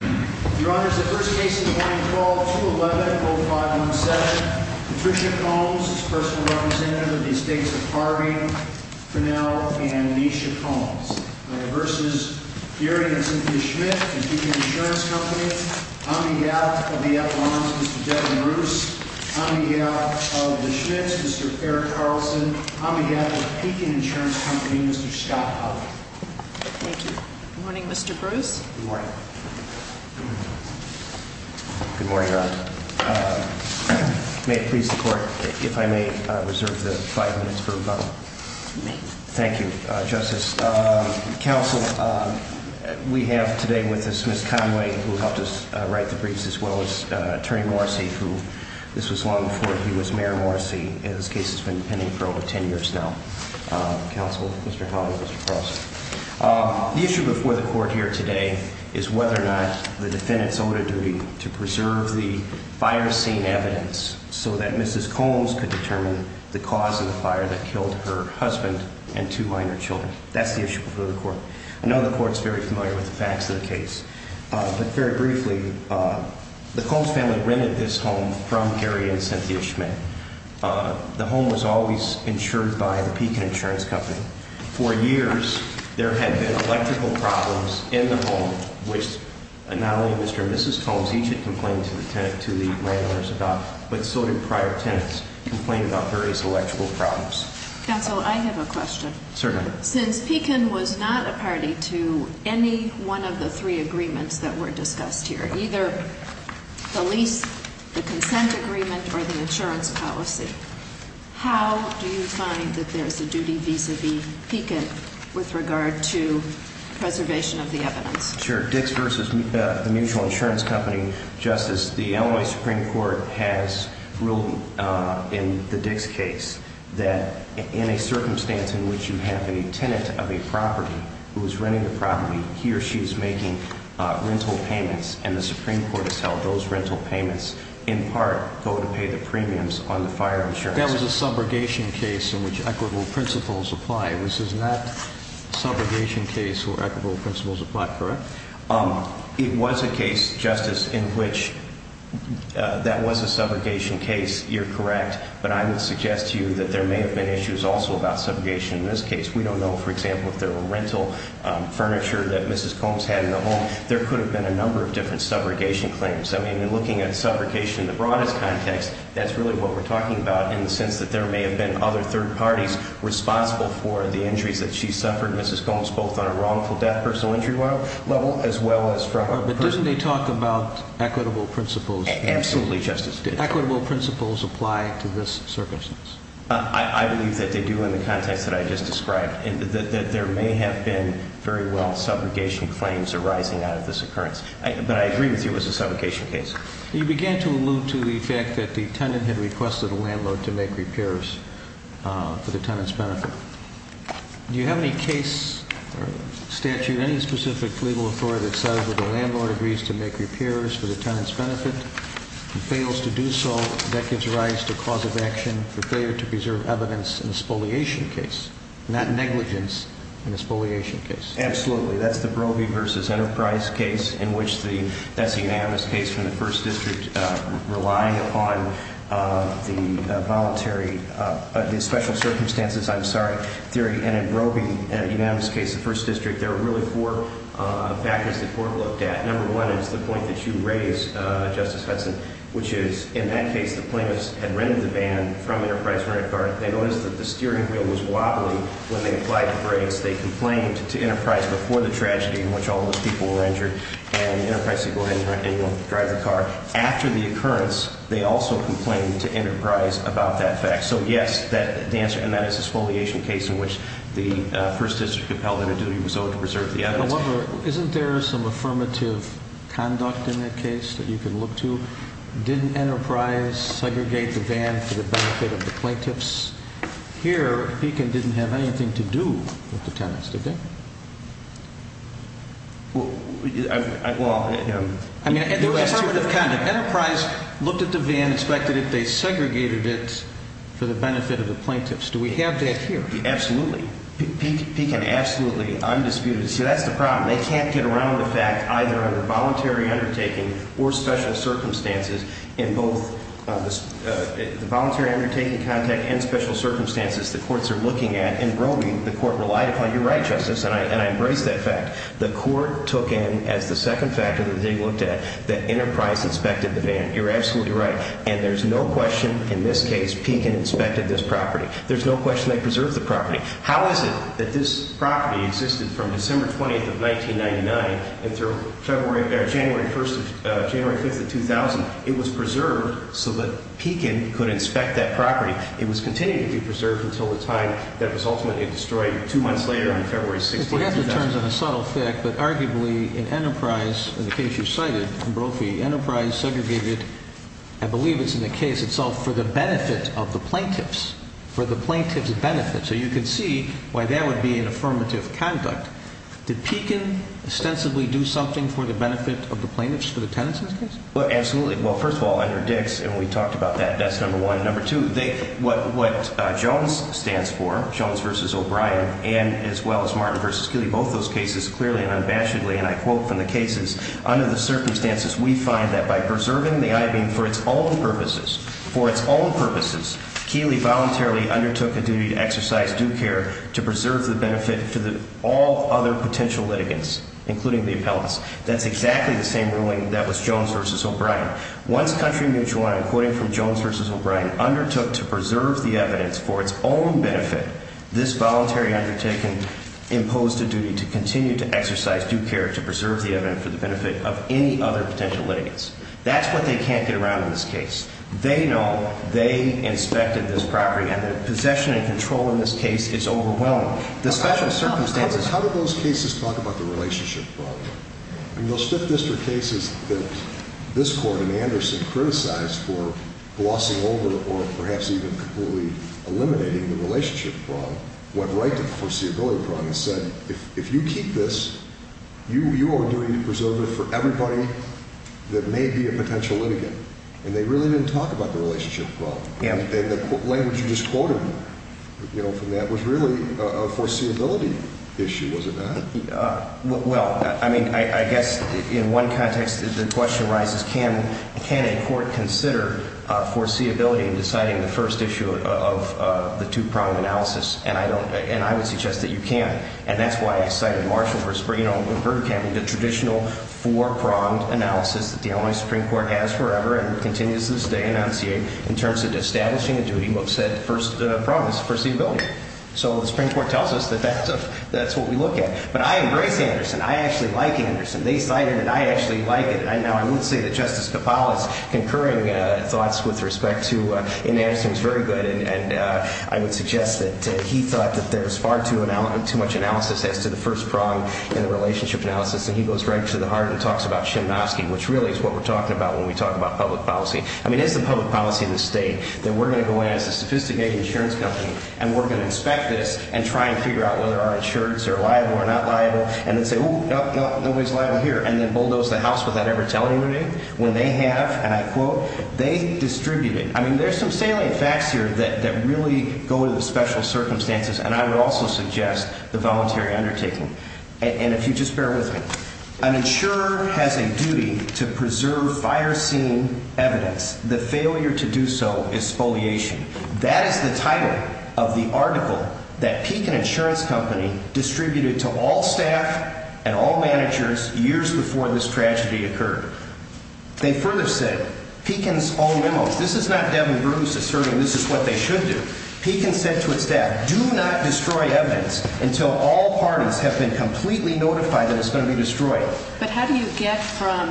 v. Deary & Cynthia Schmidt, Pekin Insurance Company Debbie Bruce v. Schmidt Eric Carlson v. Pekin Insurance Company Scott Huff v. Deary & Schmidt Good morning, Your Honor. May it please the Court, if I may reserve the five minutes for rebuttal. Thank you, Justice. Counsel, we have today with us Ms. Conway, who helped us write the briefs, as well as Attorney Morrissey, who, this was long before he was Mayor Morrissey, and this case has been pending for over ten years now. Counsel, Mr. Conway, Mr. Carlson. The issue before the Court here today is whether or not the defendants owed a duty to preserve the fire scene evidence so that Mrs. Combs could determine the cause of the fire that killed her husband and two minor children. That's the issue before the Court. I know the Court's very familiar with the facts of the case. But very briefly, the Combs family rented this home from Deary & Cynthia Schmidt. The home was always insured by the Pekin Insurance Company. For years, there had been electrical problems in the home, which not only Mr. and Mrs. Combs each had complained to the landowners about, but so did prior tenants complain about various electrical problems. Counsel, I have a question. Certainly. Since Pekin was not a party to any one of the three agreements that were discussed here, either the lease, the consent agreement, or the insurance policy, how do you find that there's a duty vis-a-vis Pekin with regard to preservation of the evidence? Sure. Dix v. Mutual Insurance Company. Justice, the Illinois Supreme Court has ruled in the Dix case that in a circumstance in which you have a tenant of a property who is renting the property, he or she is making rental payments. And the Supreme Court has held those rental payments, in part, go to pay the premiums on the fire insurance. That was a subrogation case in which equitable principles apply. This is not a subrogation case where equitable principles apply, correct? It was a case, Justice, in which that was a subrogation case. You're correct. But I would suggest to you that there may have been issues also about subrogation in this case. We don't know, for example, if there were rental furniture that Mrs. Combs had in the home. There could have been a number of different subrogation claims. I mean, in looking at subrogation in the broadest context, that's really what we're talking about in the sense that there may have been other third parties responsible for the injuries that she suffered. Mrs. Combs, both on a wrongful death, personal injury level, as well as from a personal injury. But doesn't he talk about equitable principles? Absolutely, Justice. Do equitable principles apply to this circumstance? I believe that they do in the context that I just described, that there may have been very well subrogation claims arising out of this occurrence. But I agree with you it was a subrogation case. You began to allude to the fact that the tenant had requested a landlord to make repairs for the tenant's benefit. Do you have any case statute, any specific legal authority that says that the landlord agrees to make repairs for the tenant's benefit? If he fails to do so, that gives rise to cause of action for failure to preserve evidence in a spoliation case, not negligence in a spoliation case. Absolutely. That's the Brobey v. Enterprise case in which the – that's the unanimous case from the First District relying upon the voluntary – the special circumstances, I'm sorry, theory. And in Brobey, unanimous case, the First District, there are really four factors the court looked at. Number one is the point that you raised, Justice Hudson, which is in that case the plaintiffs had rendered the ban from Enterprise Rent-a-Car. They noticed that the steering wheel was wobbling when they applied the brakes. They complained to Enterprise before the tragedy in which all of those people were injured. And Enterprise said, go ahead and you'll drive the car. After the occurrence, they also complained to Enterprise about that fact. So, yes, that – and that is a spoliation case in which the First District upheld that a duty was owed to preserve the evidence. However, isn't there some affirmative conduct in that case that you can look to? Didn't Enterprise segregate the van for the benefit of the plaintiffs? Here, Pekin didn't have anything to do with the tenants, did they? Well – I mean, there was affirmative conduct. Enterprise looked at the van, inspected it. They segregated it for the benefit of the plaintiffs. Do we have that here? Absolutely. Pekin, absolutely, undisputed. See, that's the problem. They can't get around the fact, either under voluntary undertaking or special circumstances, in both the voluntary undertaking, contact, and special circumstances, the courts are looking at and broguing. The court relied upon – you're right, Justice, and I embrace that fact. The court took in as the second factor that they looked at that Enterprise inspected the van. You're absolutely right. And there's no question in this case Pekin inspected this property. There's no question they preserved the property. How is it that this property existed from December 20th of 1999 until January 5th of 2000? It was preserved so that Pekin could inspect that property. It was continuing to be preserved until the time that it was ultimately destroyed two months later on February 16th, 2000. It's in terms of a subtle fact, but arguably in Enterprise, in the case you cited, in Brophy, Enterprise segregated, I believe it's in the case itself, for the benefit of the plaintiffs, for the plaintiffs' benefit. So you can see why that would be an affirmative conduct. Did Pekin ostensibly do something for the benefit of the plaintiffs, for the tenants in this case? Well, absolutely. Well, first of all, under Dix, and we talked about that, that's number one. Number two, what Jones stands for, Jones v. O'Brien, and as well as Martin v. Keeley, both those cases clearly and unabashedly, and I quote from the cases, under the circumstances, we find that by preserving the I-beam for its own purposes, for its own purposes, Keeley voluntarily undertook a duty to exercise due care to preserve the benefit for all other potential litigants, including the appellants. That's exactly the same ruling that was Jones v. O'Brien. Once Country Mutual, and I'm quoting from Jones v. O'Brien, undertook to preserve the evidence for its own benefit, this voluntary undertaking imposed a duty to continue to exercise due care to preserve the evidence for the benefit of any other potential litigants. That's what they can't get around in this case. They know they inspected this property, and the possession and control in this case is overwhelming. The special circumstances How did those cases talk about the relationship problem? I mean, those Fifth District cases that this Court and Anderson criticized for glossing over, or perhaps even completely eliminating the relationship problem, went right to the foreseeability problem and said, if you keep this, you are doing a preservative for everybody that may be a potential litigant. And they really didn't talk about the relationship problem. The language you just quoted from that was really a foreseeability issue, was it not? Well, I mean, I guess in one context, the question arises, can a court consider foreseeability in deciding the first issue of the two-pronged analysis? And I would suggest that you can. And that's why I cited Marshall v. Bergkamp, the traditional four-pronged analysis that the Illinois Supreme Court has forever and continues to this day enunciate in terms of establishing a duty, but said first promise, foreseeability. So the Supreme Court tells us that that's what we look at. But I embrace Anderson. I actually like Anderson. They cited it, and I actually like it. Now, I would say that Justice Kapala's concurring thoughts with respect to Anderson is very good, and I would suggest that he thought that there was far too much analysis as to the first prong in the relationship analysis, and he goes right to the heart and talks about Shemovsky, which really is what we're talking about when we talk about public policy. I mean, is the public policy in this state that we're going to go in as a sophisticated insurance company and we're going to inspect this and try and figure out whether our insurers are liable or not liable, and then say, oh, no, no, nobody's liable here, and then bulldoze the house without ever telling anybody when they have, and I quote, they distributed. I mean, there's some salient facts here that really go to the special circumstances, and I would also suggest the voluntary undertaking. And if you just bear with me, an insurer has a duty to preserve fire scene evidence. The failure to do so is foliation. That is the title of the article that Pekin Insurance Company distributed to all staff and all managers years before this tragedy occurred. They further said, Pekin's own memos, this is not Devin Bruce asserting this is what they should do. Pekin said to its staff, do not destroy evidence until all parties have been completely notified that it's going to be destroyed. But how do you get from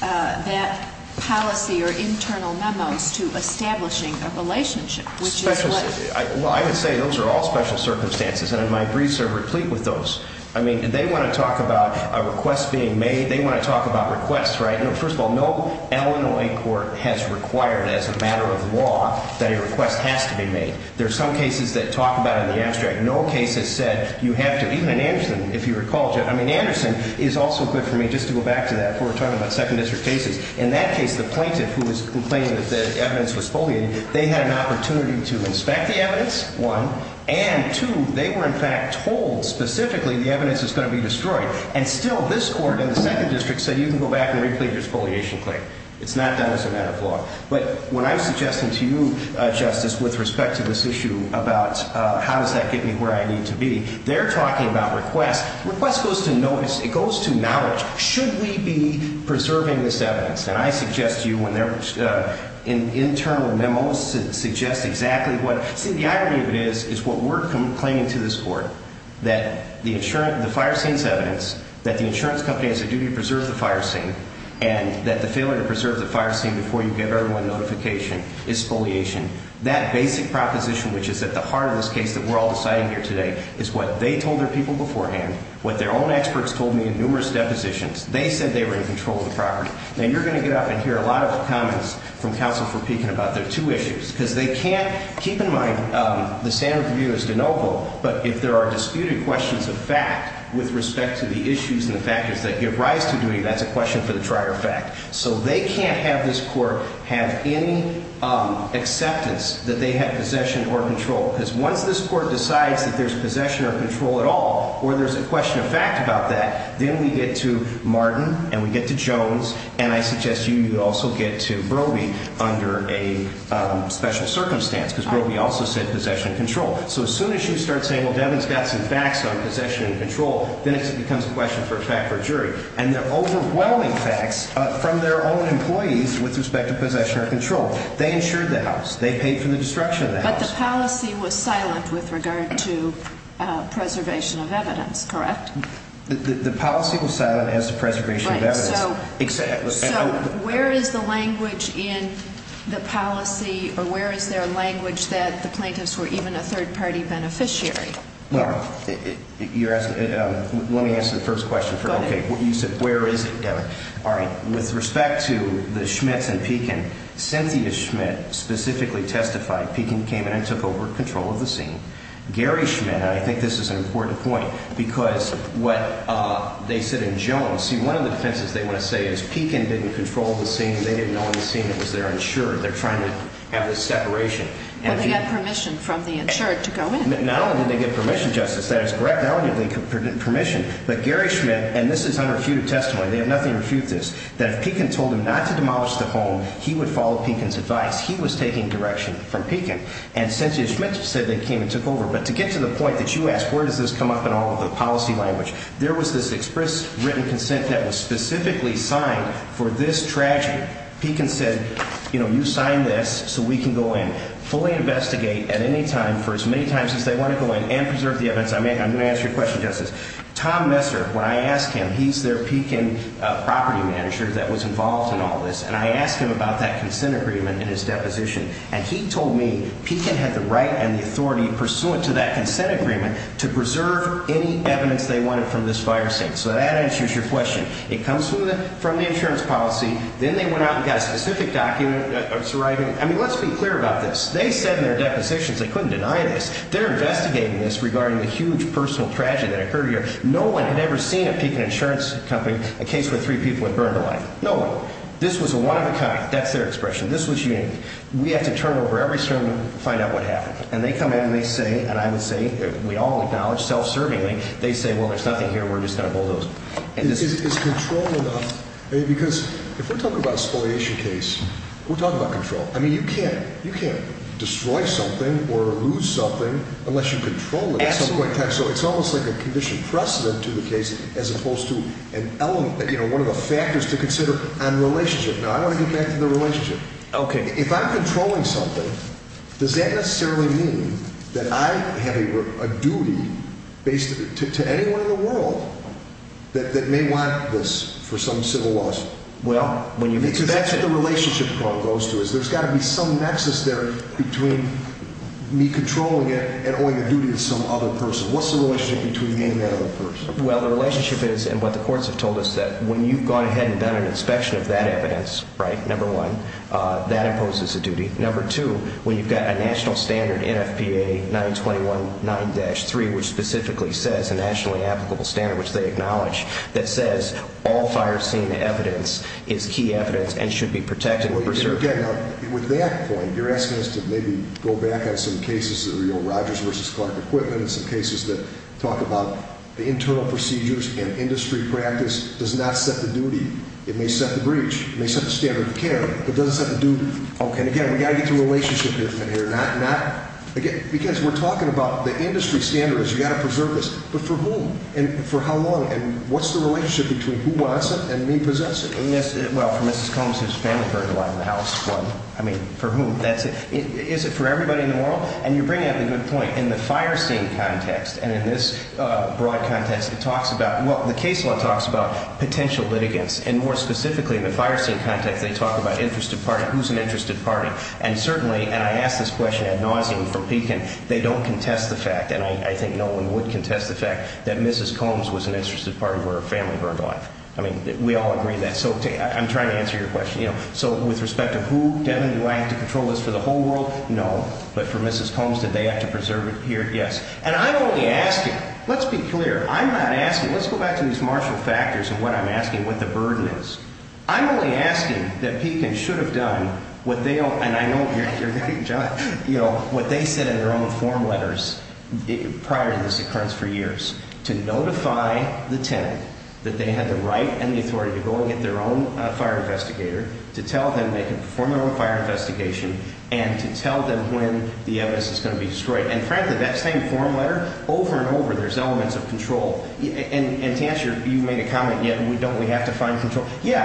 that policy or internal memos to establishing a relationship? Well, I would say those are all special circumstances, and my briefs are replete with those. I mean, they want to talk about a request being made. They want to talk about requests, right? First of all, no Illinois court has required as a matter of law that a request has to be made. There are some cases that talk about it in the abstract. No case has said you have to, even in Anderson, if you recall, I mean, Anderson is also good for me, just to go back to that before we're talking about second district cases. In that case, the plaintiff who was complaining that the evidence was foliated, they had an opportunity to inspect the evidence, one, and two, they were in fact told specifically the evidence is going to be destroyed. And still, this court in the second district said you can go back and replete your foliation claim. It's not done as a matter of law. But what I'm suggesting to you, Justice, with respect to this issue about how does that get me where I need to be, they're talking about requests. Request goes to notice. It goes to knowledge. Should we be preserving this evidence? And I suggest to you when they're in internal memos, suggest exactly what. See, the irony of it is, is what we're complaining to this court, that the fire scene's evidence, that the insurance company has a duty to preserve the fire scene, and that the failure to preserve the fire scene before you give everyone notification is foliation. That basic proposition, which is at the heart of this case that we're all deciding here today, is what they told their people beforehand, what their own experts told me in numerous depositions. They said they were in control of the property. Now, you're going to get up and hear a lot of comments from counsel for Pekin about their two issues, because they can't keep in mind the standard of view is de novo, but if there are disputed questions of fact with respect to the issues and the factors that give rise to duty, that's a question for the trier of fact. So they can't have this court have any acceptance that they have possession or control, because once this court decides that there's possession or control at all, or there's a question of fact about that, then we get to Martin, and we get to Jones, and I suggest you also get to Broby under a special circumstance, because Broby also said possession and control. So as soon as you start saying, well, Devin's got some facts on possession and control, then it becomes a question of fact for a jury. And they're overwhelming facts from their own employees with respect to possession or control. They insured the house. They paid for the destruction of the house. But the policy was silent with regard to preservation of evidence, correct? The policy was silent as to preservation of evidence. Right. So where is the language in the policy, or where is there language that the plaintiffs were even a third-party beneficiary? Well, let me answer the first question first. Okay. You said, where is it, Devin? All right. With respect to the Schmitts and Pekin, Cynthia Schmitt specifically testified. Pekin came in and took over control of the scene. Gary Schmitt, and I think this is an important point, because what they said in Jones, see, one of the defenses they want to say is Pekin didn't control the scene. They didn't own the scene. It was their insurer. They're trying to have this separation. But they got permission from the insurer to go in. Not only did they get permission, Justice, that is correct, not only did they get permission, but Gary Schmitt, and this is unrefuted testimony, they have nothing to refute this, that if Pekin told him not to demolish the home, he would follow Pekin's advice. He was taking direction from Pekin. And Cynthia Schmitt said they came and took over. But to get to the point that you asked where does this come up in all of the policy language, there was this express written consent that was specifically signed for this tragedy. Pekin said, you know, you sign this so we can go in, fully investigate at any time for as many times as they want to go in and preserve the evidence. I'm going to ask you a question, Justice. Tom Messer, when I asked him, he's their Pekin property manager that was involved in all this, and I asked him about that consent agreement in his deposition, and he told me Pekin had the right and the authority pursuant to that consent agreement to preserve any evidence they wanted from this fire scene. So that answers your question. It comes from the insurance policy. Then they went out and got a specific document. I mean, let's be clear about this. They said in their depositions they couldn't deny this. They're investigating this regarding the huge personal tragedy that occurred here. No one had ever seen at Pekin Insurance Company a case where three people had burned alive. No one. This was a one-of-a-kind. That's their expression. This was unique. We have to turn over every sermon to find out what happened. And they come in and they say, and I would say, we all acknowledge self-servingly, they say, well, there's nothing here. We're just going to bulldoze. Is control enough? Because if we're talking about a spoliation case, we're talking about control. I mean, you can't destroy something or lose something unless you control it at some point in time. So it's almost like a condition precedent to the case as opposed to an element, one of the factors to consider on relationship. Now, I want to get back to the relationship. Okay. If I'm controlling something, does that necessarily mean that I have a duty to anyone in the world that may want this for some civil loss? Because that's what the relationship goes to. There's got to be some nexus there between me controlling it and owing a duty to some other person. What's the relationship between me and that other person? Well, the relationship is, and what the courts have told us, that when you've gone ahead and done an inspection of that evidence, right, number one, that imposes a duty. Number two, when you've got a national standard, NFPA 921-9-3, which specifically says a nationally applicable standard, which they acknowledge, that says all fire scene evidence is key evidence and should be protected. Okay. Now, with that point, you're asking us to maybe go back on some cases that are Rogers v. Clark equipment and some cases that talk about the internal procedures and industry practice does not set the duty. It may set the breach. It may set the standard of care. It doesn't set the duty. Okay. And, again, we've got to get to relationship here. Again, because we're talking about the industry standards. You've got to preserve this. But for whom and for how long? And what's the relationship between who wants it and me possessing it? Well, for Mrs. Combs, whose family burned alive in the house. I mean, for whom? Is it for everybody in the world? And you bring up a good point. In the fire scene context and in this broad context, it talks about, well, the case law talks about potential litigants. And, more specifically, in the fire scene context, they talk about interested party, who's an interested party. And certainly, and I ask this question ad nauseum for Pekin, they don't contest the fact, and I think no one would contest the fact, that Mrs. Combs was an interested party where her family burned alive. I mean, we all agree that. So I'm trying to answer your question. So with respect to who, Devin, do I have to control this for the whole world? No. But for Mrs. Combs, did they have to preserve it here? Yes. And I'm only asking. Let's be clear. I'm not asking. Let's go back to these martial factors and what I'm asking, what the burden is. I'm only asking that Pekin should have done what they, and I know you're very, you know, what they said in their own form letters prior to this occurrence for years, to notify the tenant that they had the right and the authority to go and get their own fire investigator, to tell them they could perform their own fire investigation, and to tell them when the evidence is going to be destroyed. And frankly, that same form letter, over and over, there's elements of control. And to answer, you made a comment, yeah, don't we have to find control? Yeah.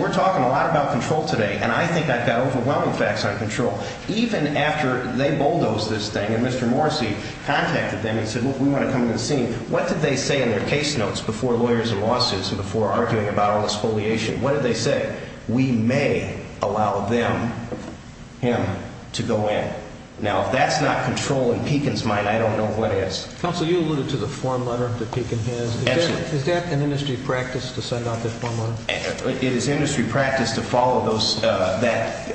We're talking a lot about control today, and I think I've got overwhelming facts on control. Even after they bulldozed this thing and Mr. Morrissey contacted them and said, well, we want to come to the scene, what did they say in their case notes before lawyers and lawsuits and before arguing about all the spoliation? What did they say? We may allow them, him, to go in. Now, if that's not control in Pekin's mind, I don't know what is. Counsel, you alluded to the form letter that Pekin has. Excellent. Is that an industry practice to send out this form letter? It is industry practice to follow those guides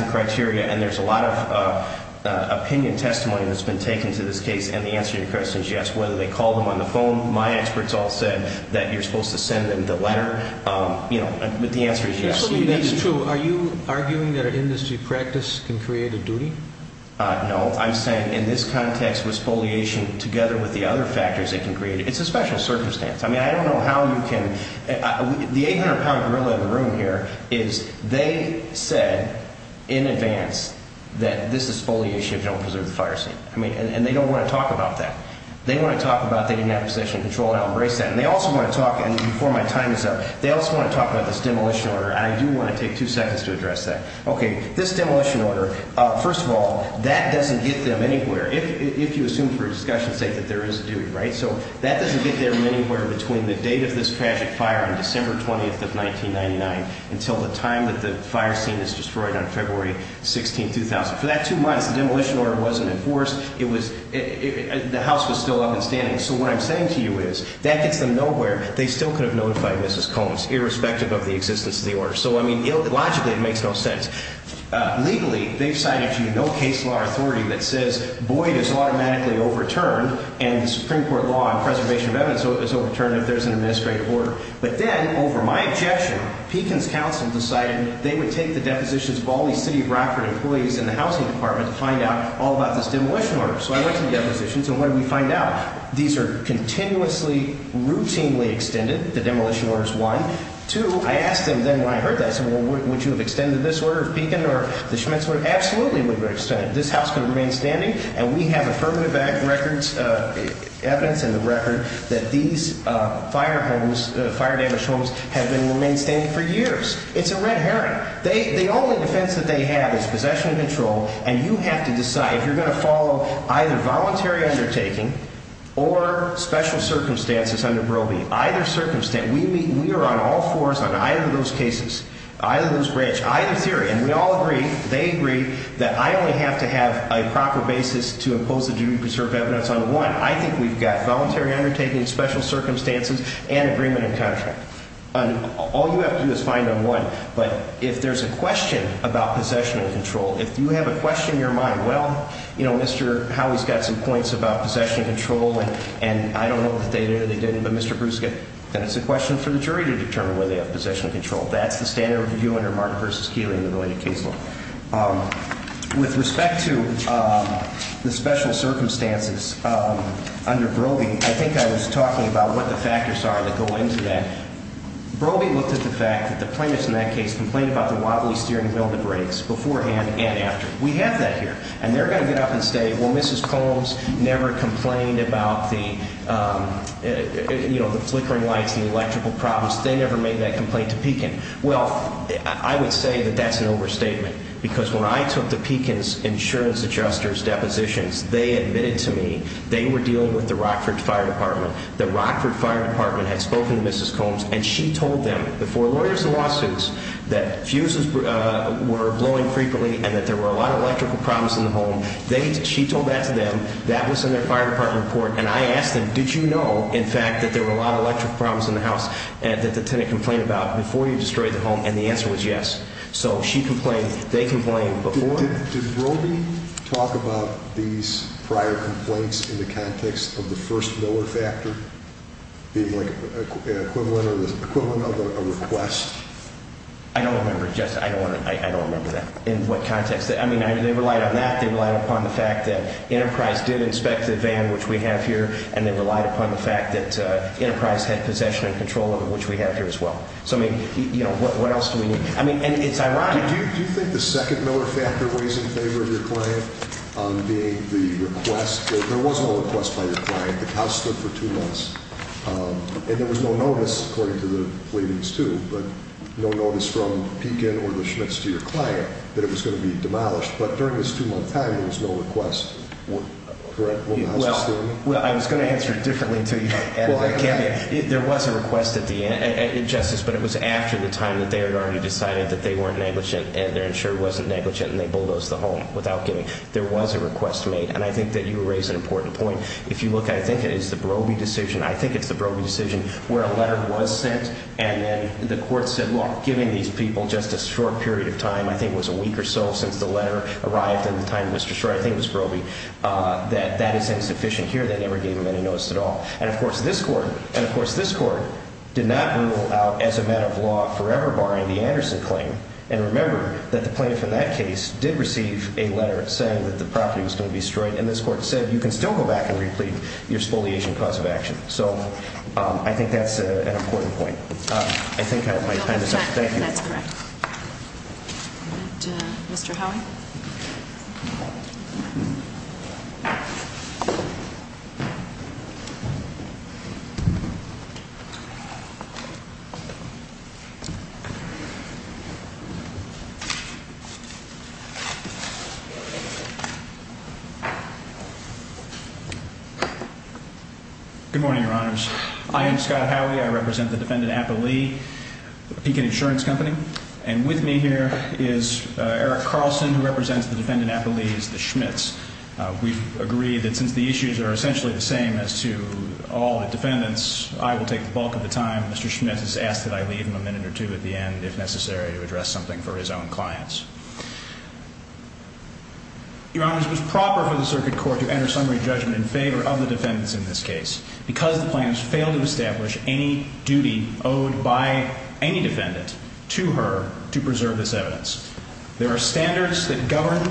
and criteria, and there's a lot of opinion testimony that's been taken to this case, and the answer to your question is yes. Whether they call them on the phone, my experts all said that you're supposed to send them the letter, but the answer is yes. That's true. Are you arguing that an industry practice can create a duty? No. I'm saying in this context, with spoliation, together with the other factors it can create, it's a special circumstance. I mean, I don't know how you can. The 800-pound gorilla in the room here is they said in advance that this is spoliation if you don't preserve the fire scene, and they don't want to talk about that. They want to talk about they didn't have possession control, and I'll embrace that. And they also want to talk, and before my time is up, they also want to talk about this demolition order, and I do want to take two seconds to address that. Okay, this demolition order, first of all, that doesn't get them anywhere, if you assume for discussion's sake that there is a duty, right? So that doesn't get them anywhere between the date of this tragic fire on December 20th of 1999 until the time that the fire scene is destroyed on February 16th, 2000. For that two months, the demolition order wasn't enforced. The house was still up and standing. So what I'm saying to you is that gets them nowhere. They still could have notified Mrs. Combs, irrespective of the existence of the order. So, I mean, logically it makes no sense. Legally, they've cited to you no case law authority that says Boyd is automatically overturned and the Supreme Court law on preservation of evidence is overturned if there's an administrative order. But then, over my objection, Pekin's counsel decided they would take the depositions of all these city of Rockford employees in the housing department to find out all about this demolition order. So I went to the depositions, and what did we find out? These are continuously, routinely extended, the demolition orders, one. Two, I asked them then when I heard this, would you have extended this order of Pekin or the Schmitz order? Absolutely, we would have extended it. This house can remain standing, and we have affirmative evidence in the record that these fire homes, fire-damaged homes, have remained standing for years. It's a red herring. The only defense that they have is possession of control, and you have to decide if you're going to follow either voluntary undertaking or special circumstances under Broby. We are on all fours on either of those cases, either of those branch, either theory, and we all agree, they agree, that I only have to have a proper basis to impose a duty to preserve evidence on one. I think we've got voluntary undertaking, special circumstances, and agreement and contract. All you have to do is find on one. But if there's a question about possession of control, if you have a question in your mind, well, you know, Mr. Howey's got some points about possession of control, and I don't know if they did or they didn't, but Mr. Bruschke, then it's a question for the jury to determine whether they have possession of control. That's the standard review under Mark v. Keeley in the related case law. With respect to the special circumstances under Broby, I think I was talking about what the factors are that go into that. Broby looked at the fact that the plaintiffs in that case complained about the wobbly steering wheel that breaks beforehand and after. We have that here, and they're going to get up and say, well, Mrs. Combs never complained about the flickering lights and the electrical problems. They never made that complaint to Pekin. Well, I would say that that's an overstatement, because when I took the Pekin's insurance adjuster's depositions, they admitted to me they were dealing with the Rockford Fire Department. The Rockford Fire Department had spoken to Mrs. Combs, and she told them before lawyers and lawsuits that fuses were blowing frequently and that there were a lot of electrical problems in the home. She told that to them. That was in their Fire Department report, and I asked them, did you know, in fact, that there were a lot of electrical problems in the house that the tenant complained about before you destroyed the home? And the answer was yes. So she complained. They complained before. Did Broby talk about these prior complaints in the context of the first Miller factor being like an equivalent or the equivalent of a request? I don't remember. I don't remember that in what context. I mean, they relied on that. They relied upon the fact that Enterprise did inspect the van, which we have here, and they relied upon the fact that Enterprise had possession and control of it, which we have here as well. So, I mean, you know, what else do we need? I mean, and it's ironic. Do you think the second Miller factor was in favor of your client being the request? There was no request by your client. The house stood for two months, and there was no notice, according to the pleadings too, but no notice from Pekin or the Schmitz to your client that it was going to be demolished. But during this two-month time, there was no request, correct? Well, I was going to answer it differently until you added that caveat. There was a request at the end, Justice, but it was after the time that they had already decided that they weren't negligent and their insurer wasn't negligent and they bulldozed the home without giving. There was a request made, and I think that you raise an important point. If you look, I think it is the Broby decision. I think it's the Broby decision where a letter was sent, and then the court said, well, giving these people just a short period of time, I think it was a week or so since the letter arrived and the time it was destroyed, I think it was Broby, that that is insufficient here. They never gave him any notice at all. And, of course, this court did not rule out, as a matter of law, forever barring the Anderson claim. And remember that the plaintiff in that case did receive a letter saying that the property was going to be destroyed, and this court said you can still go back and replete your spoliation cause of action. So I think that's an important point. I think my time is up. Thank you. That's correct. Mr. Howie? Good morning, Your Honors. I am Scott Howie. I represent the defendant, Appa Lee, Pekin Insurance Company. And with me here is Eric Carlson, who represents the defendant, Appa Lee's, the Schmitz. We've agreed that since the issues are essentially the same as to all the defendants, I will take the bulk of the time. Mr. Schmitz has asked that I leave him a minute or two at the end, if necessary, to address something for his own clients. Your Honors, it was proper for the circuit court to enter summary judgment in favor of the defendants in this case because the plaintiffs failed to establish any duty owed by any defendant to her to preserve this evidence. There are standards that govern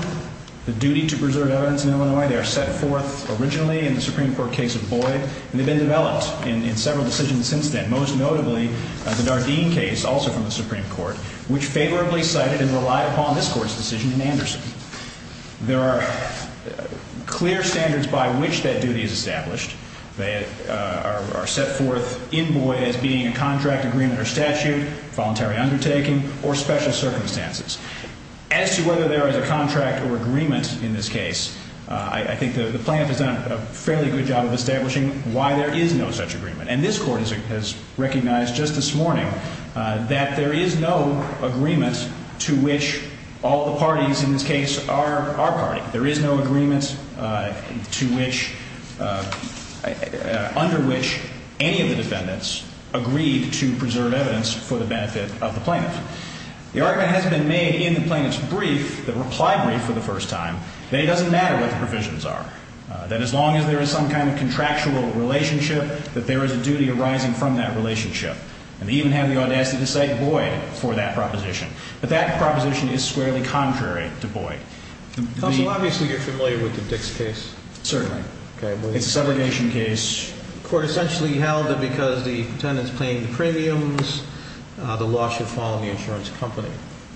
the duty to preserve evidence in Illinois. They are set forth originally in the Supreme Court case of Boyd, and they've been developed in several decisions since then, most notably the Dardeen case, also from the Supreme Court, which favorably cited and relied upon this Court's decision in Anderson. There are clear standards by which that duty is established. They are set forth in Boyd as being a contract, agreement, or statute, voluntary undertaking, or special circumstances. As to whether there is a contract or agreement in this case, I think the plaintiff has done a fairly good job of establishing why there is no such agreement. And this Court has recognized just this morning that there is no agreement to which all the parties in this case are party. There is no agreement under which any of the defendants agreed to preserve evidence for the benefit of the plaintiff. The argument has been made in the plaintiff's brief, the reply brief for the first time, that it doesn't matter what the provisions are, that as long as there is some kind of contractual relationship, that there is a duty arising from that relationship. And they even have the audacity to cite Boyd for that proposition. But that proposition is squarely contrary to Boyd. Counsel, obviously you're familiar with the Dix case. Certainly. It's a segregation case. The Court essentially held that because the tenant's paying the premiums, the law should fall on the insurance company.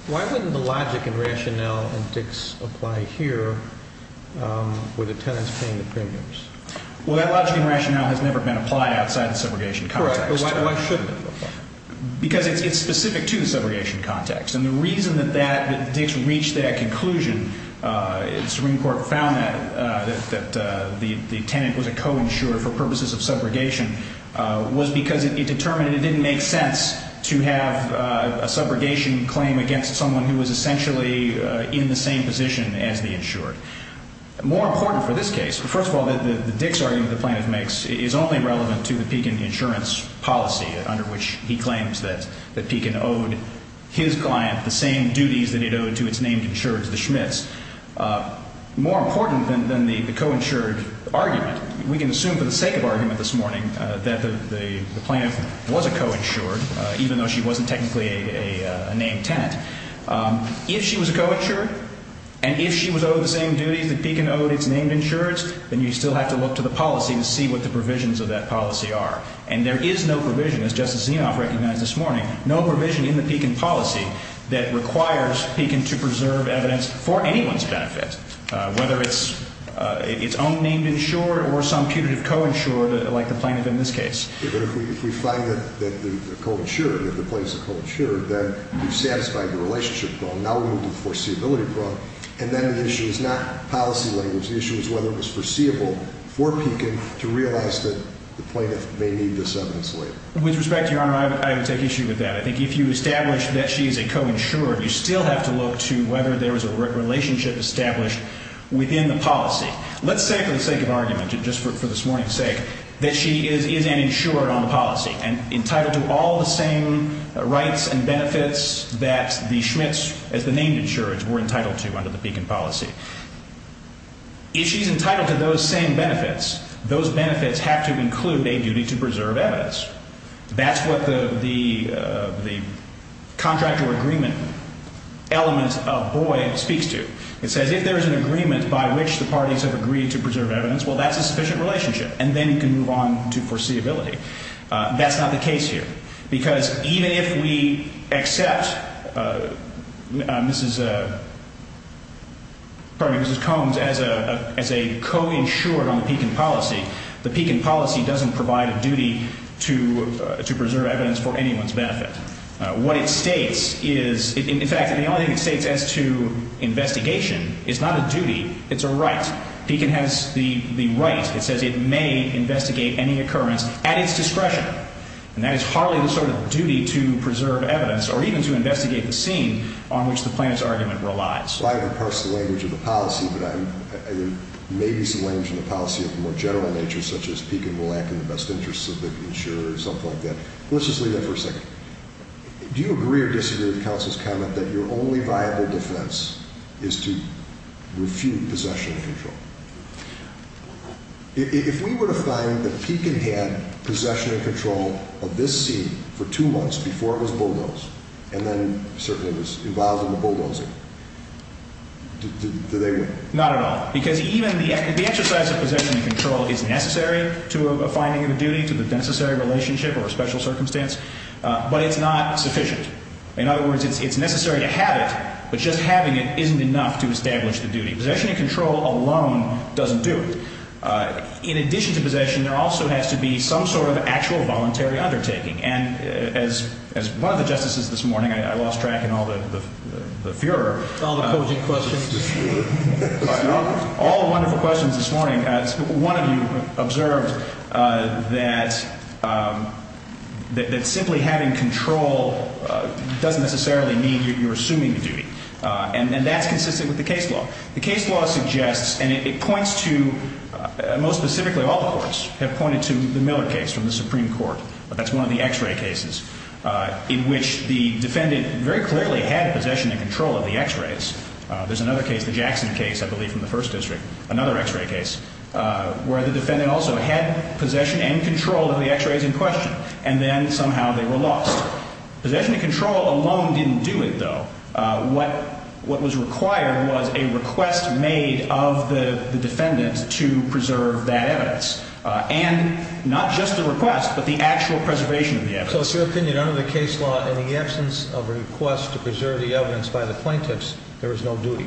Why wouldn't the logic and rationale in Dix apply here where the tenant's paying the premiums? Well, that logic and rationale has never been applied outside the segregation context. Correct. But why shouldn't it be applied? Because it's specific to the segregation context. And the reason that Dix reached that conclusion, the Supreme Court found that the tenant was a co-insurer for purposes of subrogation, was because it determined it didn't make sense to have a subrogation claim against someone who was essentially in the same position as the insured. More important for this case, first of all, the Dix argument the plaintiff makes is only relevant to the Pekin insurance policy, under which he claims that Pekin owed his client the same duties that it owed to its named insured, the Schmitz. More important than the co-insured argument, we can assume for the sake of argument this morning that the plaintiff was a co-insured, even though she wasn't technically a named tenant. If she was a co-insured, and if she was owed the same duties that Pekin owed its named insureds, then you still have to look to the policy to see what the provisions of that policy are. And there is no provision, as Justice Zinoff recognized this morning, no provision in the Pekin policy that requires Pekin to preserve evidence for anyone's benefit, whether it's its own named insured or some putative co-insured, like the plaintiff in this case. But if we find that they're co-insured, that the plaintiff's a co-insured, then you've satisfied the relationship law. Now we move to the foreseeability law. And then the issue is not policy language. The issue is whether it was foreseeable for Pekin to realize that the plaintiff may need this evidence later. With respect to Your Honor, I would take issue with that. I think if you establish that she is a co-insured, you still have to look to whether there is a relationship established within the policy. Let's say for the sake of argument, just for this morning's sake, that she is an insured on the policy, and entitled to all the same rights and benefits that the Schmitz, as the named insureds, were entitled to under the Pekin policy. If she's entitled to those same benefits, those benefits have to include a duty to preserve evidence. That's what the contractual agreement element of Boyle speaks to. It says if there is an agreement by which the parties have agreed to preserve evidence, well, that's a sufficient relationship. And then you can move on to foreseeability. That's not the case here. Because even if we accept Mrs. Combs as a co-insured on the Pekin policy, the Pekin policy doesn't provide a duty to preserve evidence for anyone's benefit. What it states is, in fact, the only thing it states as to investigation is not a duty, it's a right. Pekin has the right. It says it may investigate any occurrence at its discretion. And that is hardly the sort of duty to preserve evidence or even to investigate the scene on which the plaintiff's argument relies. I'm trying to parse the language of the policy, but there may be some language in the policy of a more general nature, such as Pekin will act in the best interest of the insurer or something like that. Let's just leave that for a second. Do you agree or disagree with counsel's comment that your only viable defense is to refute possession and control? If we were to find that Pekin had possession and control of this scene for two months before it was bulldozed, and then certainly was involved in the bulldozing, do they win? Not at all, because even the exercise of possession and control is necessary to a finding of a duty, to the necessary relationship or a special circumstance, but it's not sufficient. In other words, it's necessary to have it, but just having it isn't enough to establish the duty. Possession and control alone doesn't do it. In addition to possession, there also has to be some sort of actual voluntary undertaking. And as one of the justices this morning, I lost track in all the furor. All the posing questions. All the wonderful questions this morning. One of you observed that simply having control doesn't necessarily mean you're assuming the duty, and that's consistent with the case law. The case law suggests, and it points to, most specifically all the courts have pointed to the Miller case from the Supreme Court. That's one of the X-ray cases in which the defendant very clearly had possession and control of the X-rays. There's another case, the Jackson case, I believe, from the First District, another X-ray case, where the defendant also had possession and control of the X-rays in question, and then somehow they were lost. Possession and control alone didn't do it, though. What was required was a request made of the defendant to preserve that evidence, and not just the request but the actual preservation of the evidence. So it's your opinion under the case law, in the absence of a request to preserve the evidence by the plaintiffs, there is no duty?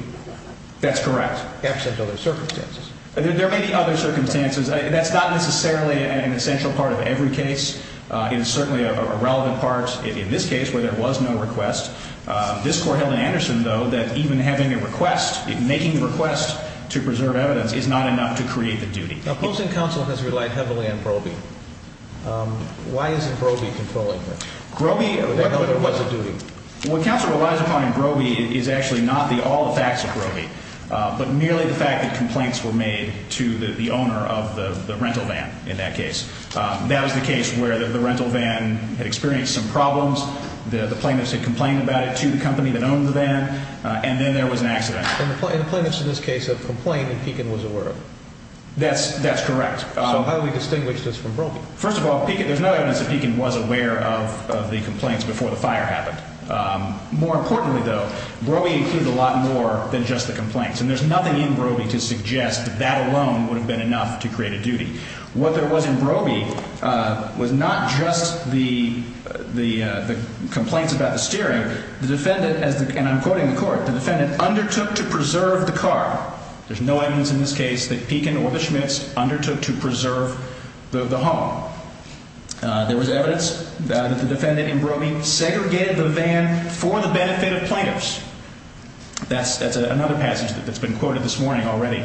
That's correct. Absent other circumstances. There may be other circumstances. That's not necessarily an essential part of every case. It is certainly a relevant part in this case where there was no request. This Court held in Anderson, though, that even having a request, making the request to preserve evidence, is not enough to create the duty. Now, Post and Counsel has relied heavily on Brobey. Why isn't Brobey controlling this? Brobey held there was a duty. What Counsel relies upon in Brobey is actually not all the facts of Brobey, but merely the fact that complaints were made to the owner of the rental van in that case. That was the case where the rental van had experienced some problems, the plaintiffs had complained about it to the company that owned the van, and then there was an accident. And the plaintiffs in this case have complained that Pekin was aware of it. That's correct. So how do we distinguish this from Brobey? First of all, there's no evidence that Pekin was aware of the complaints before the fire happened. More importantly, though, Brobey included a lot more than just the complaints, and there's nothing in Brobey to suggest that that alone would have been enough to create a duty. What there was in Brobey was not just the complaints about the steering. The defendant, and I'm quoting the Court, the defendant undertook to preserve the car. There's no evidence in this case that Pekin or the Schmitz undertook to preserve the home. There was evidence that the defendant in Brobey segregated the van for the benefit of plaintiffs. That's another passage that's been quoted this morning already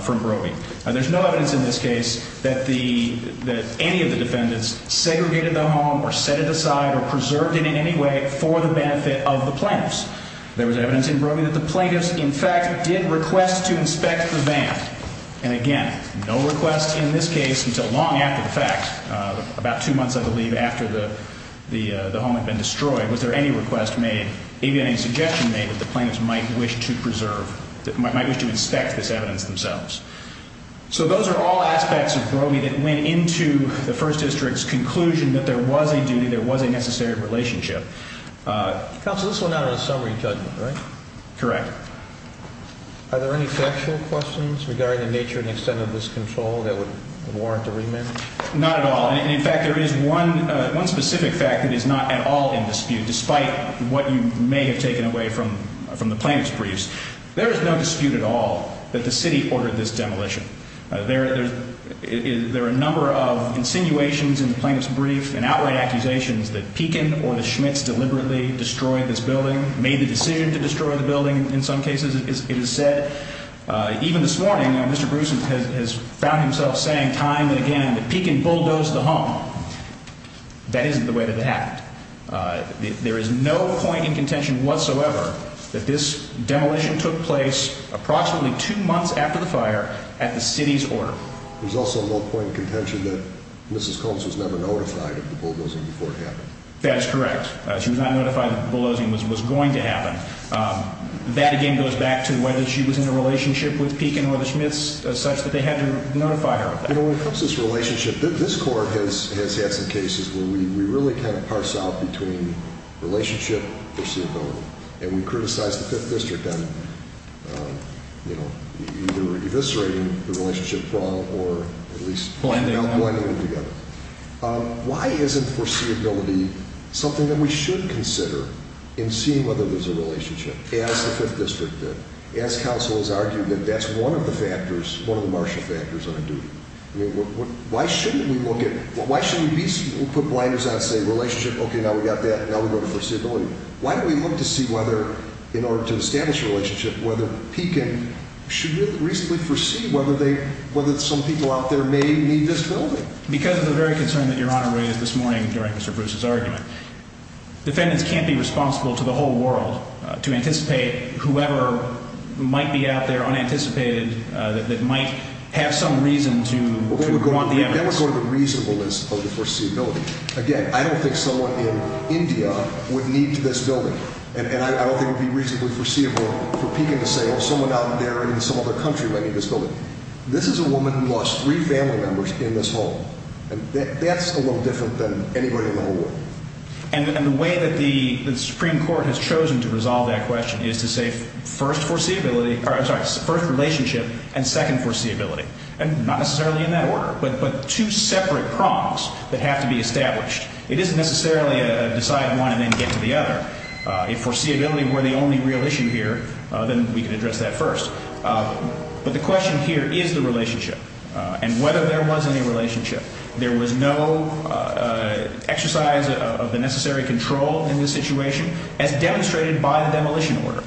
from Brobey. There's no evidence in this case that any of the defendants segregated the home or set it aside or preserved it in any way for the benefit of the plaintiffs. There was evidence in Brobey that the plaintiffs, in fact, did request to inspect the van. And, again, no request in this case until long after the fact, about two months, I believe, after the home had been destroyed. Was there any request made, maybe any suggestion made, that the plaintiffs might wish to preserve, might wish to inspect this evidence themselves? So those are all aspects of Brobey that went into the First District's conclusion that there was a duty, there was a necessary relationship. Counsel, this went out on a summary judgment, right? Correct. Are there any factual questions regarding the nature and extent of this control that would warrant a remand? Not at all. And, in fact, there is one specific fact that is not at all in dispute, despite what you may have taken away from the plaintiff's briefs. There is no dispute at all that the city ordered this demolition. There are a number of insinuations in the plaintiff's brief and outright accusations that Pekin or the Schmitz deliberately destroyed this building, made the decision to destroy the building in some cases, it is said. Even this morning, Mr. Bruce has found himself saying time and again that Pekin bulldozed the home. That isn't the way that it happened. There is no point in contention whatsoever that this demolition took place approximately two months after the fire at the city's order. There is also no point in contention that Mrs. Combs was never notified of the bulldozing before it happened. That is correct. She was not notified that the bulldozing was going to happen. That, again, goes back to whether she was in a relationship with Pekin or the Schmitz as such that they had to notify her of that. When it comes to this relationship, this court has had some cases where we really kind of parse out between relationship, foreseeable, and we criticize the 5th District on either eviscerating the relationship wrong or at least not blending them together. Why isn't foreseeability something that we should consider in seeing whether there is a relationship, as the 5th District did, as counsel has argued that that's one of the factors, one of the martial factors on a duty? Why shouldn't we look at, why shouldn't we put blinders on and say relationship, okay, now we got that, now we go to foreseeability. Why don't we look to see whether, in order to establish a relationship, whether Pekin should reasonably foresee whether some people out there may need this building? Because of the very concern that Your Honor raised this morning during Mr. Bruce's argument, defendants can't be responsible to the whole world to anticipate whoever might be out there unanticipated that might have some reason to want the evidence. Then we go to the reasonableness of the foreseeability. Again, I don't think someone in India would need this building, and I don't think it would be reasonably foreseeable for Pekin to say, oh, someone out there in some other country might need this building. This is a woman who lost three family members in this home, and that's a little different than anybody in the whole world. And the way that the Supreme Court has chosen to resolve that question is to say first relationship and second foreseeability, and not necessarily in that order, but two separate prongs that have to be established. It isn't necessarily a decide one and then get to the other. If foreseeability were the only real issue here, then we could address that first. But the question here is the relationship and whether there was any relationship. There was no exercise of the necessary control in this situation as demonstrated by the demolition order.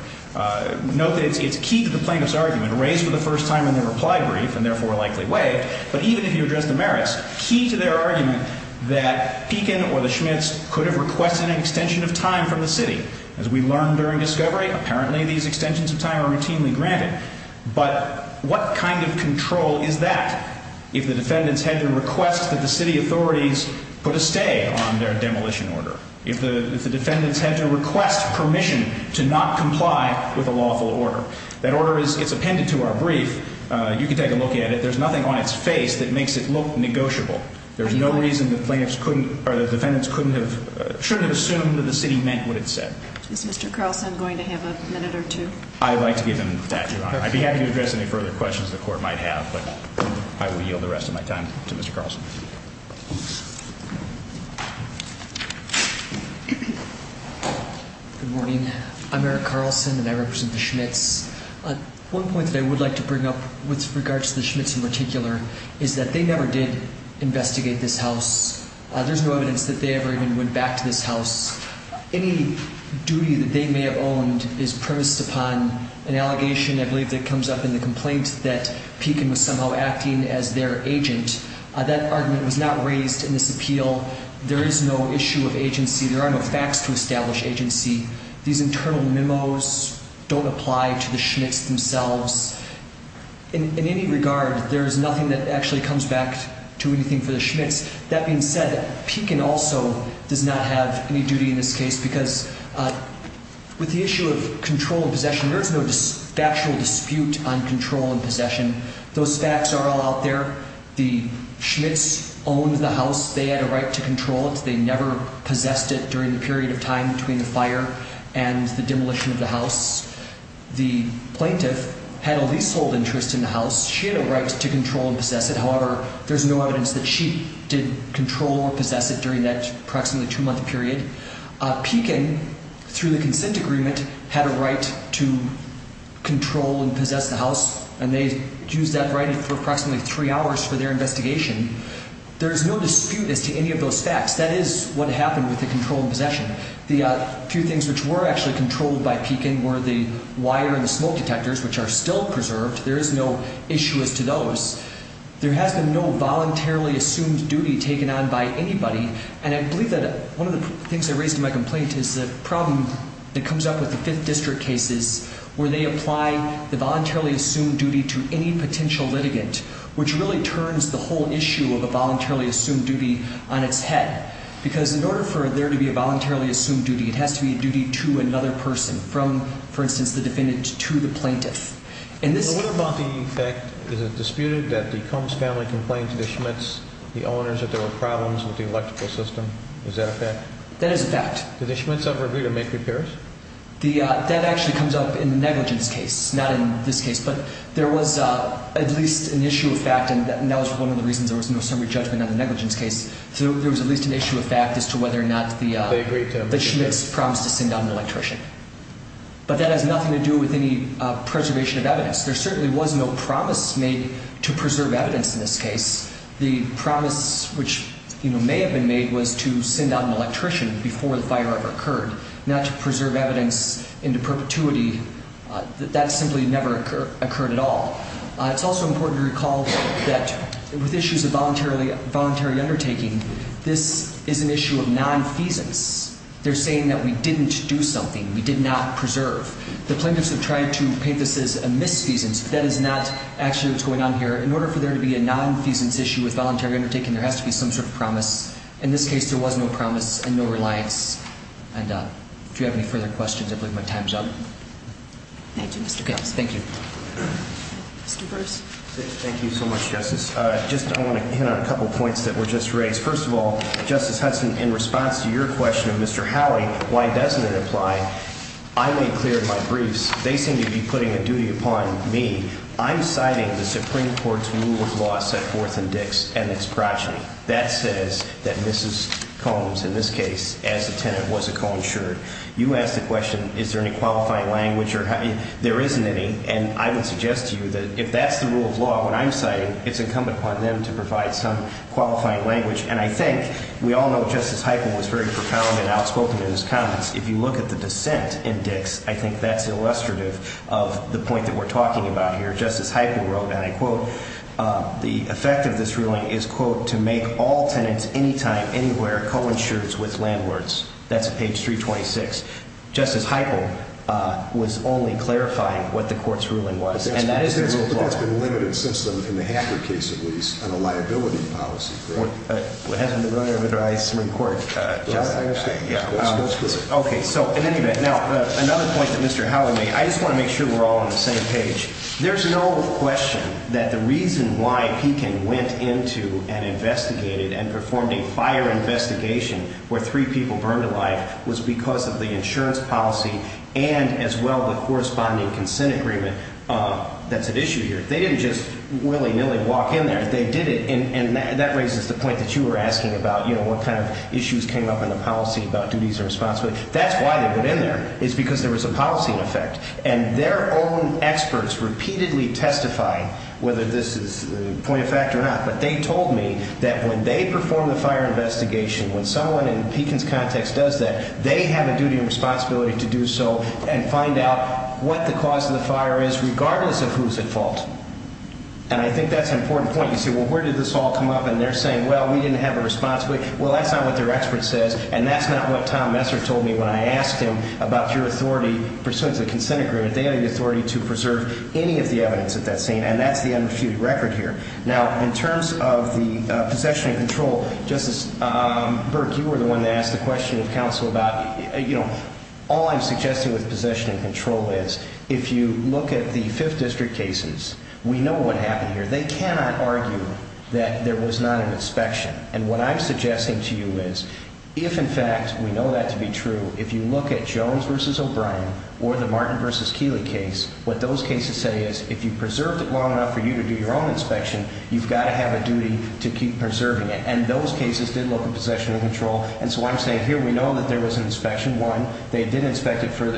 Note that it's key to the plaintiff's argument, raised for the first time in the reply brief and therefore likely waived, but even if you address the merits, key to their argument that Pekin or the Schmitz could have requested an extension of time from the city. As we learned during discovery, apparently these extensions of time are routinely granted. But what kind of control is that if the defendants had to request that the city authorities put a stay on their demolition order? If the defendants had to request permission to not comply with a lawful order? That order is appended to our brief. You can take a look at it. There's nothing on its face that makes it look negotiable. There's no reason the defendants shouldn't have assumed that the city meant what it said. Is Mr. Carlson going to have a minute or two? I'd like to give him that, Your Honor. I'd be happy to address any further questions the court might have, but I will yield the rest of my time to Mr. Carlson. Good morning. I'm Eric Carlson, and I represent the Schmitz. One point that I would like to bring up with regards to the Schmitz in particular is that they never did investigate this house. There's no evidence that they ever even went back to this house. Any duty that they may have owned is premised upon an allegation, I believe, that comes up in the complaint that Pekin was somehow acting as their agent. That argument was not raised in this appeal. There is no issue of agency. There are no facts to establish agency. These internal memos don't apply to the Schmitz themselves. In any regard, there is nothing that actually comes back to anything for the Schmitz. That being said, Pekin also does not have any duty in this case because with the issue of control and possession, there is no factual dispute on control and possession. Those facts are all out there. The Schmitz owned the house. They had a right to control it. They never possessed it during the period of time between the fire and the demolition of the house. The plaintiff had a leasehold interest in the house. She had a right to control and possess it. However, there's no evidence that she did control or possess it during that approximately two-month period. Pekin, through the consent agreement, had a right to control and possess the house, and they used that right for approximately three hours for their investigation. There is no dispute as to any of those facts. That is what happened with the control and possession. The few things which were actually controlled by Pekin were the wire and the smoke detectors, which are still preserved. There is no issue as to those. There has been no voluntarily assumed duty taken on by anybody, and I believe that one of the things I raised in my complaint is the problem that comes up with the Fifth District cases where they apply the voluntarily assumed duty to any potential litigant, which really turns the whole issue of a voluntarily assumed duty on its head, because in order for there to be a voluntarily assumed duty, it has to be a duty to another person, from, for instance, the defendant to the plaintiff. What about the fact, is it disputed, that the Combs family complained to the Schmitz, the owners, that there were problems with the electrical system? Is that a fact? That is a fact. Did the Schmitz ever agree to make repairs? That actually comes up in the negligence case, not in this case, but there was at least an issue of fact, and that was one of the reasons there was no summary judgment on the negligence case. There was at least an issue of fact as to whether or not the Schmitz promised to send out an electrician. But that has nothing to do with any preservation of evidence. There certainly was no promise made to preserve evidence in this case. The promise, which may have been made, was to send out an electrician before the fire ever occurred, not to preserve evidence into perpetuity. That simply never occurred at all. It's also important to recall that with issues of voluntary undertaking, this is an issue of nonfeasance. They're saying that we didn't do something, we did not preserve. The plaintiffs have tried to paint this as a misfeasance, but that is not actually what's going on here. In order for there to be a nonfeasance issue with voluntary undertaking, there has to be some sort of promise. In this case, there was no promise and no reliance. And do you have any further questions? I believe my time's up. Thank you, Mr. Giles. Thank you. Mr. Burris. Thank you so much, Justice. I want to hit on a couple of points that were just raised. First of all, Justice Hudson, in response to your question of Mr. Howie, why doesn't it apply, I made clear in my briefs, they seem to be putting a duty upon me, I'm citing the Supreme Court's rule of law set forth in Dix and its progeny. That says that Mrs. Combs, in this case, as a tenant, was a co-insured. You asked the question, is there any qualifying language, there isn't any. And I would suggest to you that if that's the rule of law, what I'm citing, it's incumbent upon them to provide some qualifying language. And I think we all know Justice Heiple was very profound and outspoken in his comments. If you look at the dissent in Dix, I think that's illustrative of the point that we're talking about here. Justice Heiple wrote, and I quote, the effect of this ruling is, quote, to make all tenants, anytime, anywhere, co-insureds with landlords. That's page 326. Justice Heiple was only clarifying what the court's ruling was, and that is the rule of law. But that's been limited since then, in the Hacker case, at least, on a liability policy, correct? Well, it hasn't been run over by the Supreme Court, Justice. I understand, that's good. Okay, so, in any event, now, another point that Mr. Howie made, I just want to make sure we're all on the same page. There's no question that the reason why Peking went into and investigated and performed a fire investigation where three people burned alive was because of the insurance policy and, as well, the corresponding consent agreement that's at issue here. They didn't just willy-nilly walk in there. They did it, and that raises the point that you were asking about, you know, what kind of issues came up in the policy about duties and responsibility. That's why they went in there, is because there was a policy in effect. And their own experts repeatedly testified, whether this is a point of fact or not, but they told me that when they perform the fire investigation, when someone in Peking's context does that, they have a duty and responsibility to do so and find out what the cause of the fire is, regardless of who's at fault. And I think that's an important point. You say, well, where did this all come up? And they're saying, well, we didn't have a responsibility. Well, that's not what their expert says, and that's not what Tom Messer told me when I asked him about your authority pursuant to the consent agreement. They have the authority to preserve any of the evidence at that scene, and that's the unrefuted record here. Now, in terms of the possession and control, Justice Burke, you were the one that asked the question of counsel about, you know, all I'm suggesting with possession and control is if you look at the Fifth District cases, we know what happened here. They cannot argue that there was not an inspection. And what I'm suggesting to you is if, in fact, we know that to be true, if you look at Jones v. O'Brien or the Martin v. Keeley case, what those cases say is if you preserved it long enough for you to do your own inspection, you've got to have a duty to keep preserving it. And those cases did look at possession and control. And so I'm saying here we know that there was an inspection. One, they did inspect it for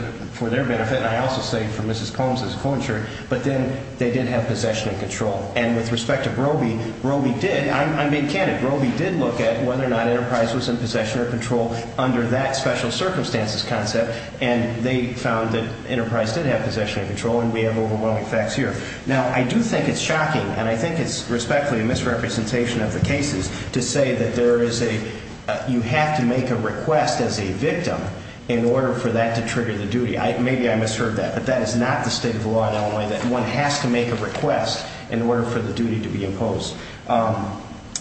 their benefit, and I also say for Mrs. Combs' co-insurer, but then they did have possession and control. And with respect to Brobey, Brobey did. I'm being candid. Brobey did look at whether or not Enterprise was in possession or control under that special circumstances concept, and they found that Enterprise did have possession and control, and we have overwhelming facts here. Now, I do think it's shocking, and I think it's respectfully a misrepresentation of the cases to say that there is a – you have to make a request as a victim in order for that to trigger the duty. Maybe I misheard that, but that is not the state of the law in Illinois, that one has to make a request in order for the duty to be imposed.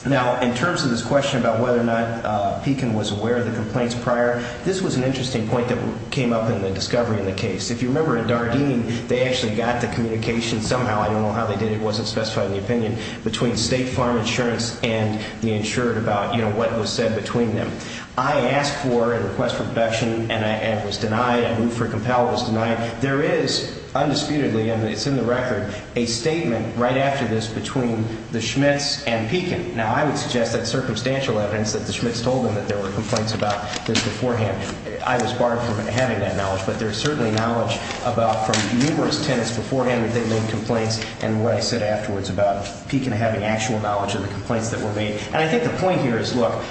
Now, in terms of this question about whether or not Pekin was aware of the complaints prior, this was an interesting point that came up in the discovery of the case. If you remember in Dardene, they actually got the communication somehow – I don't know how they did it, it wasn't specified in the opinion – between State Farm Insurance and the insured about what was said between them. I asked for a request for protection, and it was denied. I moved for a compel, it was denied. There is, undisputedly, and it's in the record, a statement right after this between the Schmitz and Pekin. Now, I would suggest that's circumstantial evidence that the Schmitz told them that there were complaints about this beforehand. I was barred from having that knowledge, but there's certainly knowledge from numerous tenants beforehand that they made complaints, and what I said afterwards about Pekin having actual knowledge of the complaints that were made. And I think the point here is, look,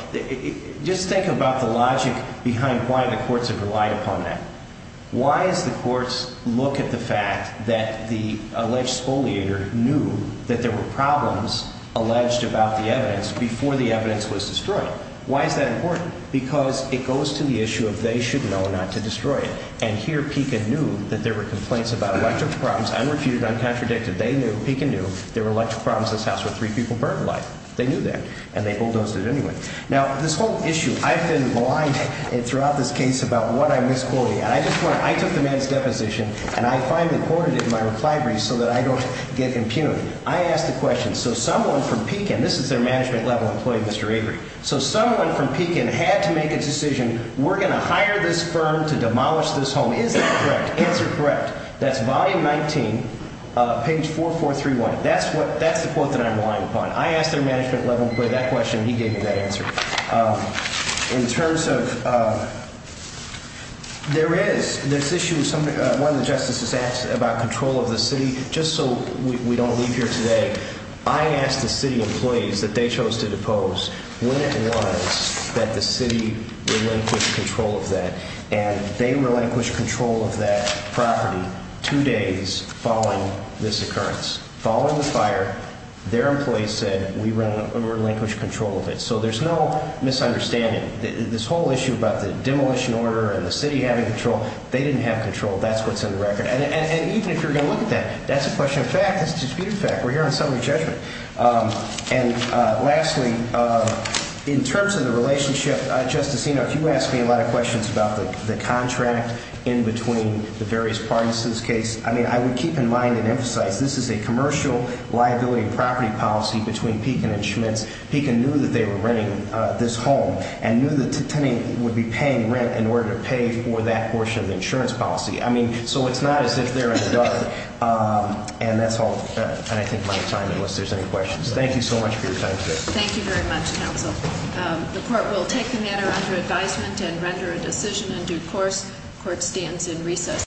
just think about the logic behind why the courts have relied upon that. Why does the courts look at the fact that the alleged spoliator knew that there were problems alleged about the evidence before the evidence was destroyed? Why is that important? Because it goes to the issue of they should know not to destroy it. And here, Pekin knew that there were complaints about electrical problems, unrefuted, uncontradicted. They knew, Pekin knew, there were electrical problems in this house where three people burned alive. They knew that, and they bulldozed it anyway. Now, this whole issue, I've been blinded throughout this case about what I misquoted. I took the man's deposition, and I finally quoted it in my reply brief so that I don't get impunity. I asked the question, so someone from Pekin, this is their management level employee, Mr. Avery. So someone from Pekin had to make a decision, we're going to hire this firm to demolish this home. Is that correct? Answer correct. That's volume 19, page 4431. That's the quote that I'm relying upon. I asked their management level employee that question, and he gave me that answer. In terms of there is this issue, one of the justices asked about control of the city. Just so we don't leave here today, I asked the city employees that they chose to depose when it was that the city relinquished control of that. And they relinquished control of that property two days following this occurrence. Following the fire, their employees said, we relinquished control of it. So there's no misunderstanding. This whole issue about the demolition order and the city having control, they didn't have control. That's what's in the record. And even if you're going to look at that, that's a question of fact. That's a disputed fact. We're here on summary judgment. And lastly, in terms of the relationship, Justice Enoch, you asked me a lot of questions about the contract in between the various parties to this case. I mean, I would keep in mind and emphasize this is a commercial liability property policy between Pekin and Schmitz. Pekin knew that they were renting this home and knew the tenant would be paying rent in order to pay for that portion of the insurance policy. I mean, so it's not as if they're in the dark. And that's all. And I think my time, unless there's any questions. Thank you so much for your time today. Thank you very much, counsel. The court will take the matter under advisement and render a decision in due course. Court stands in recess.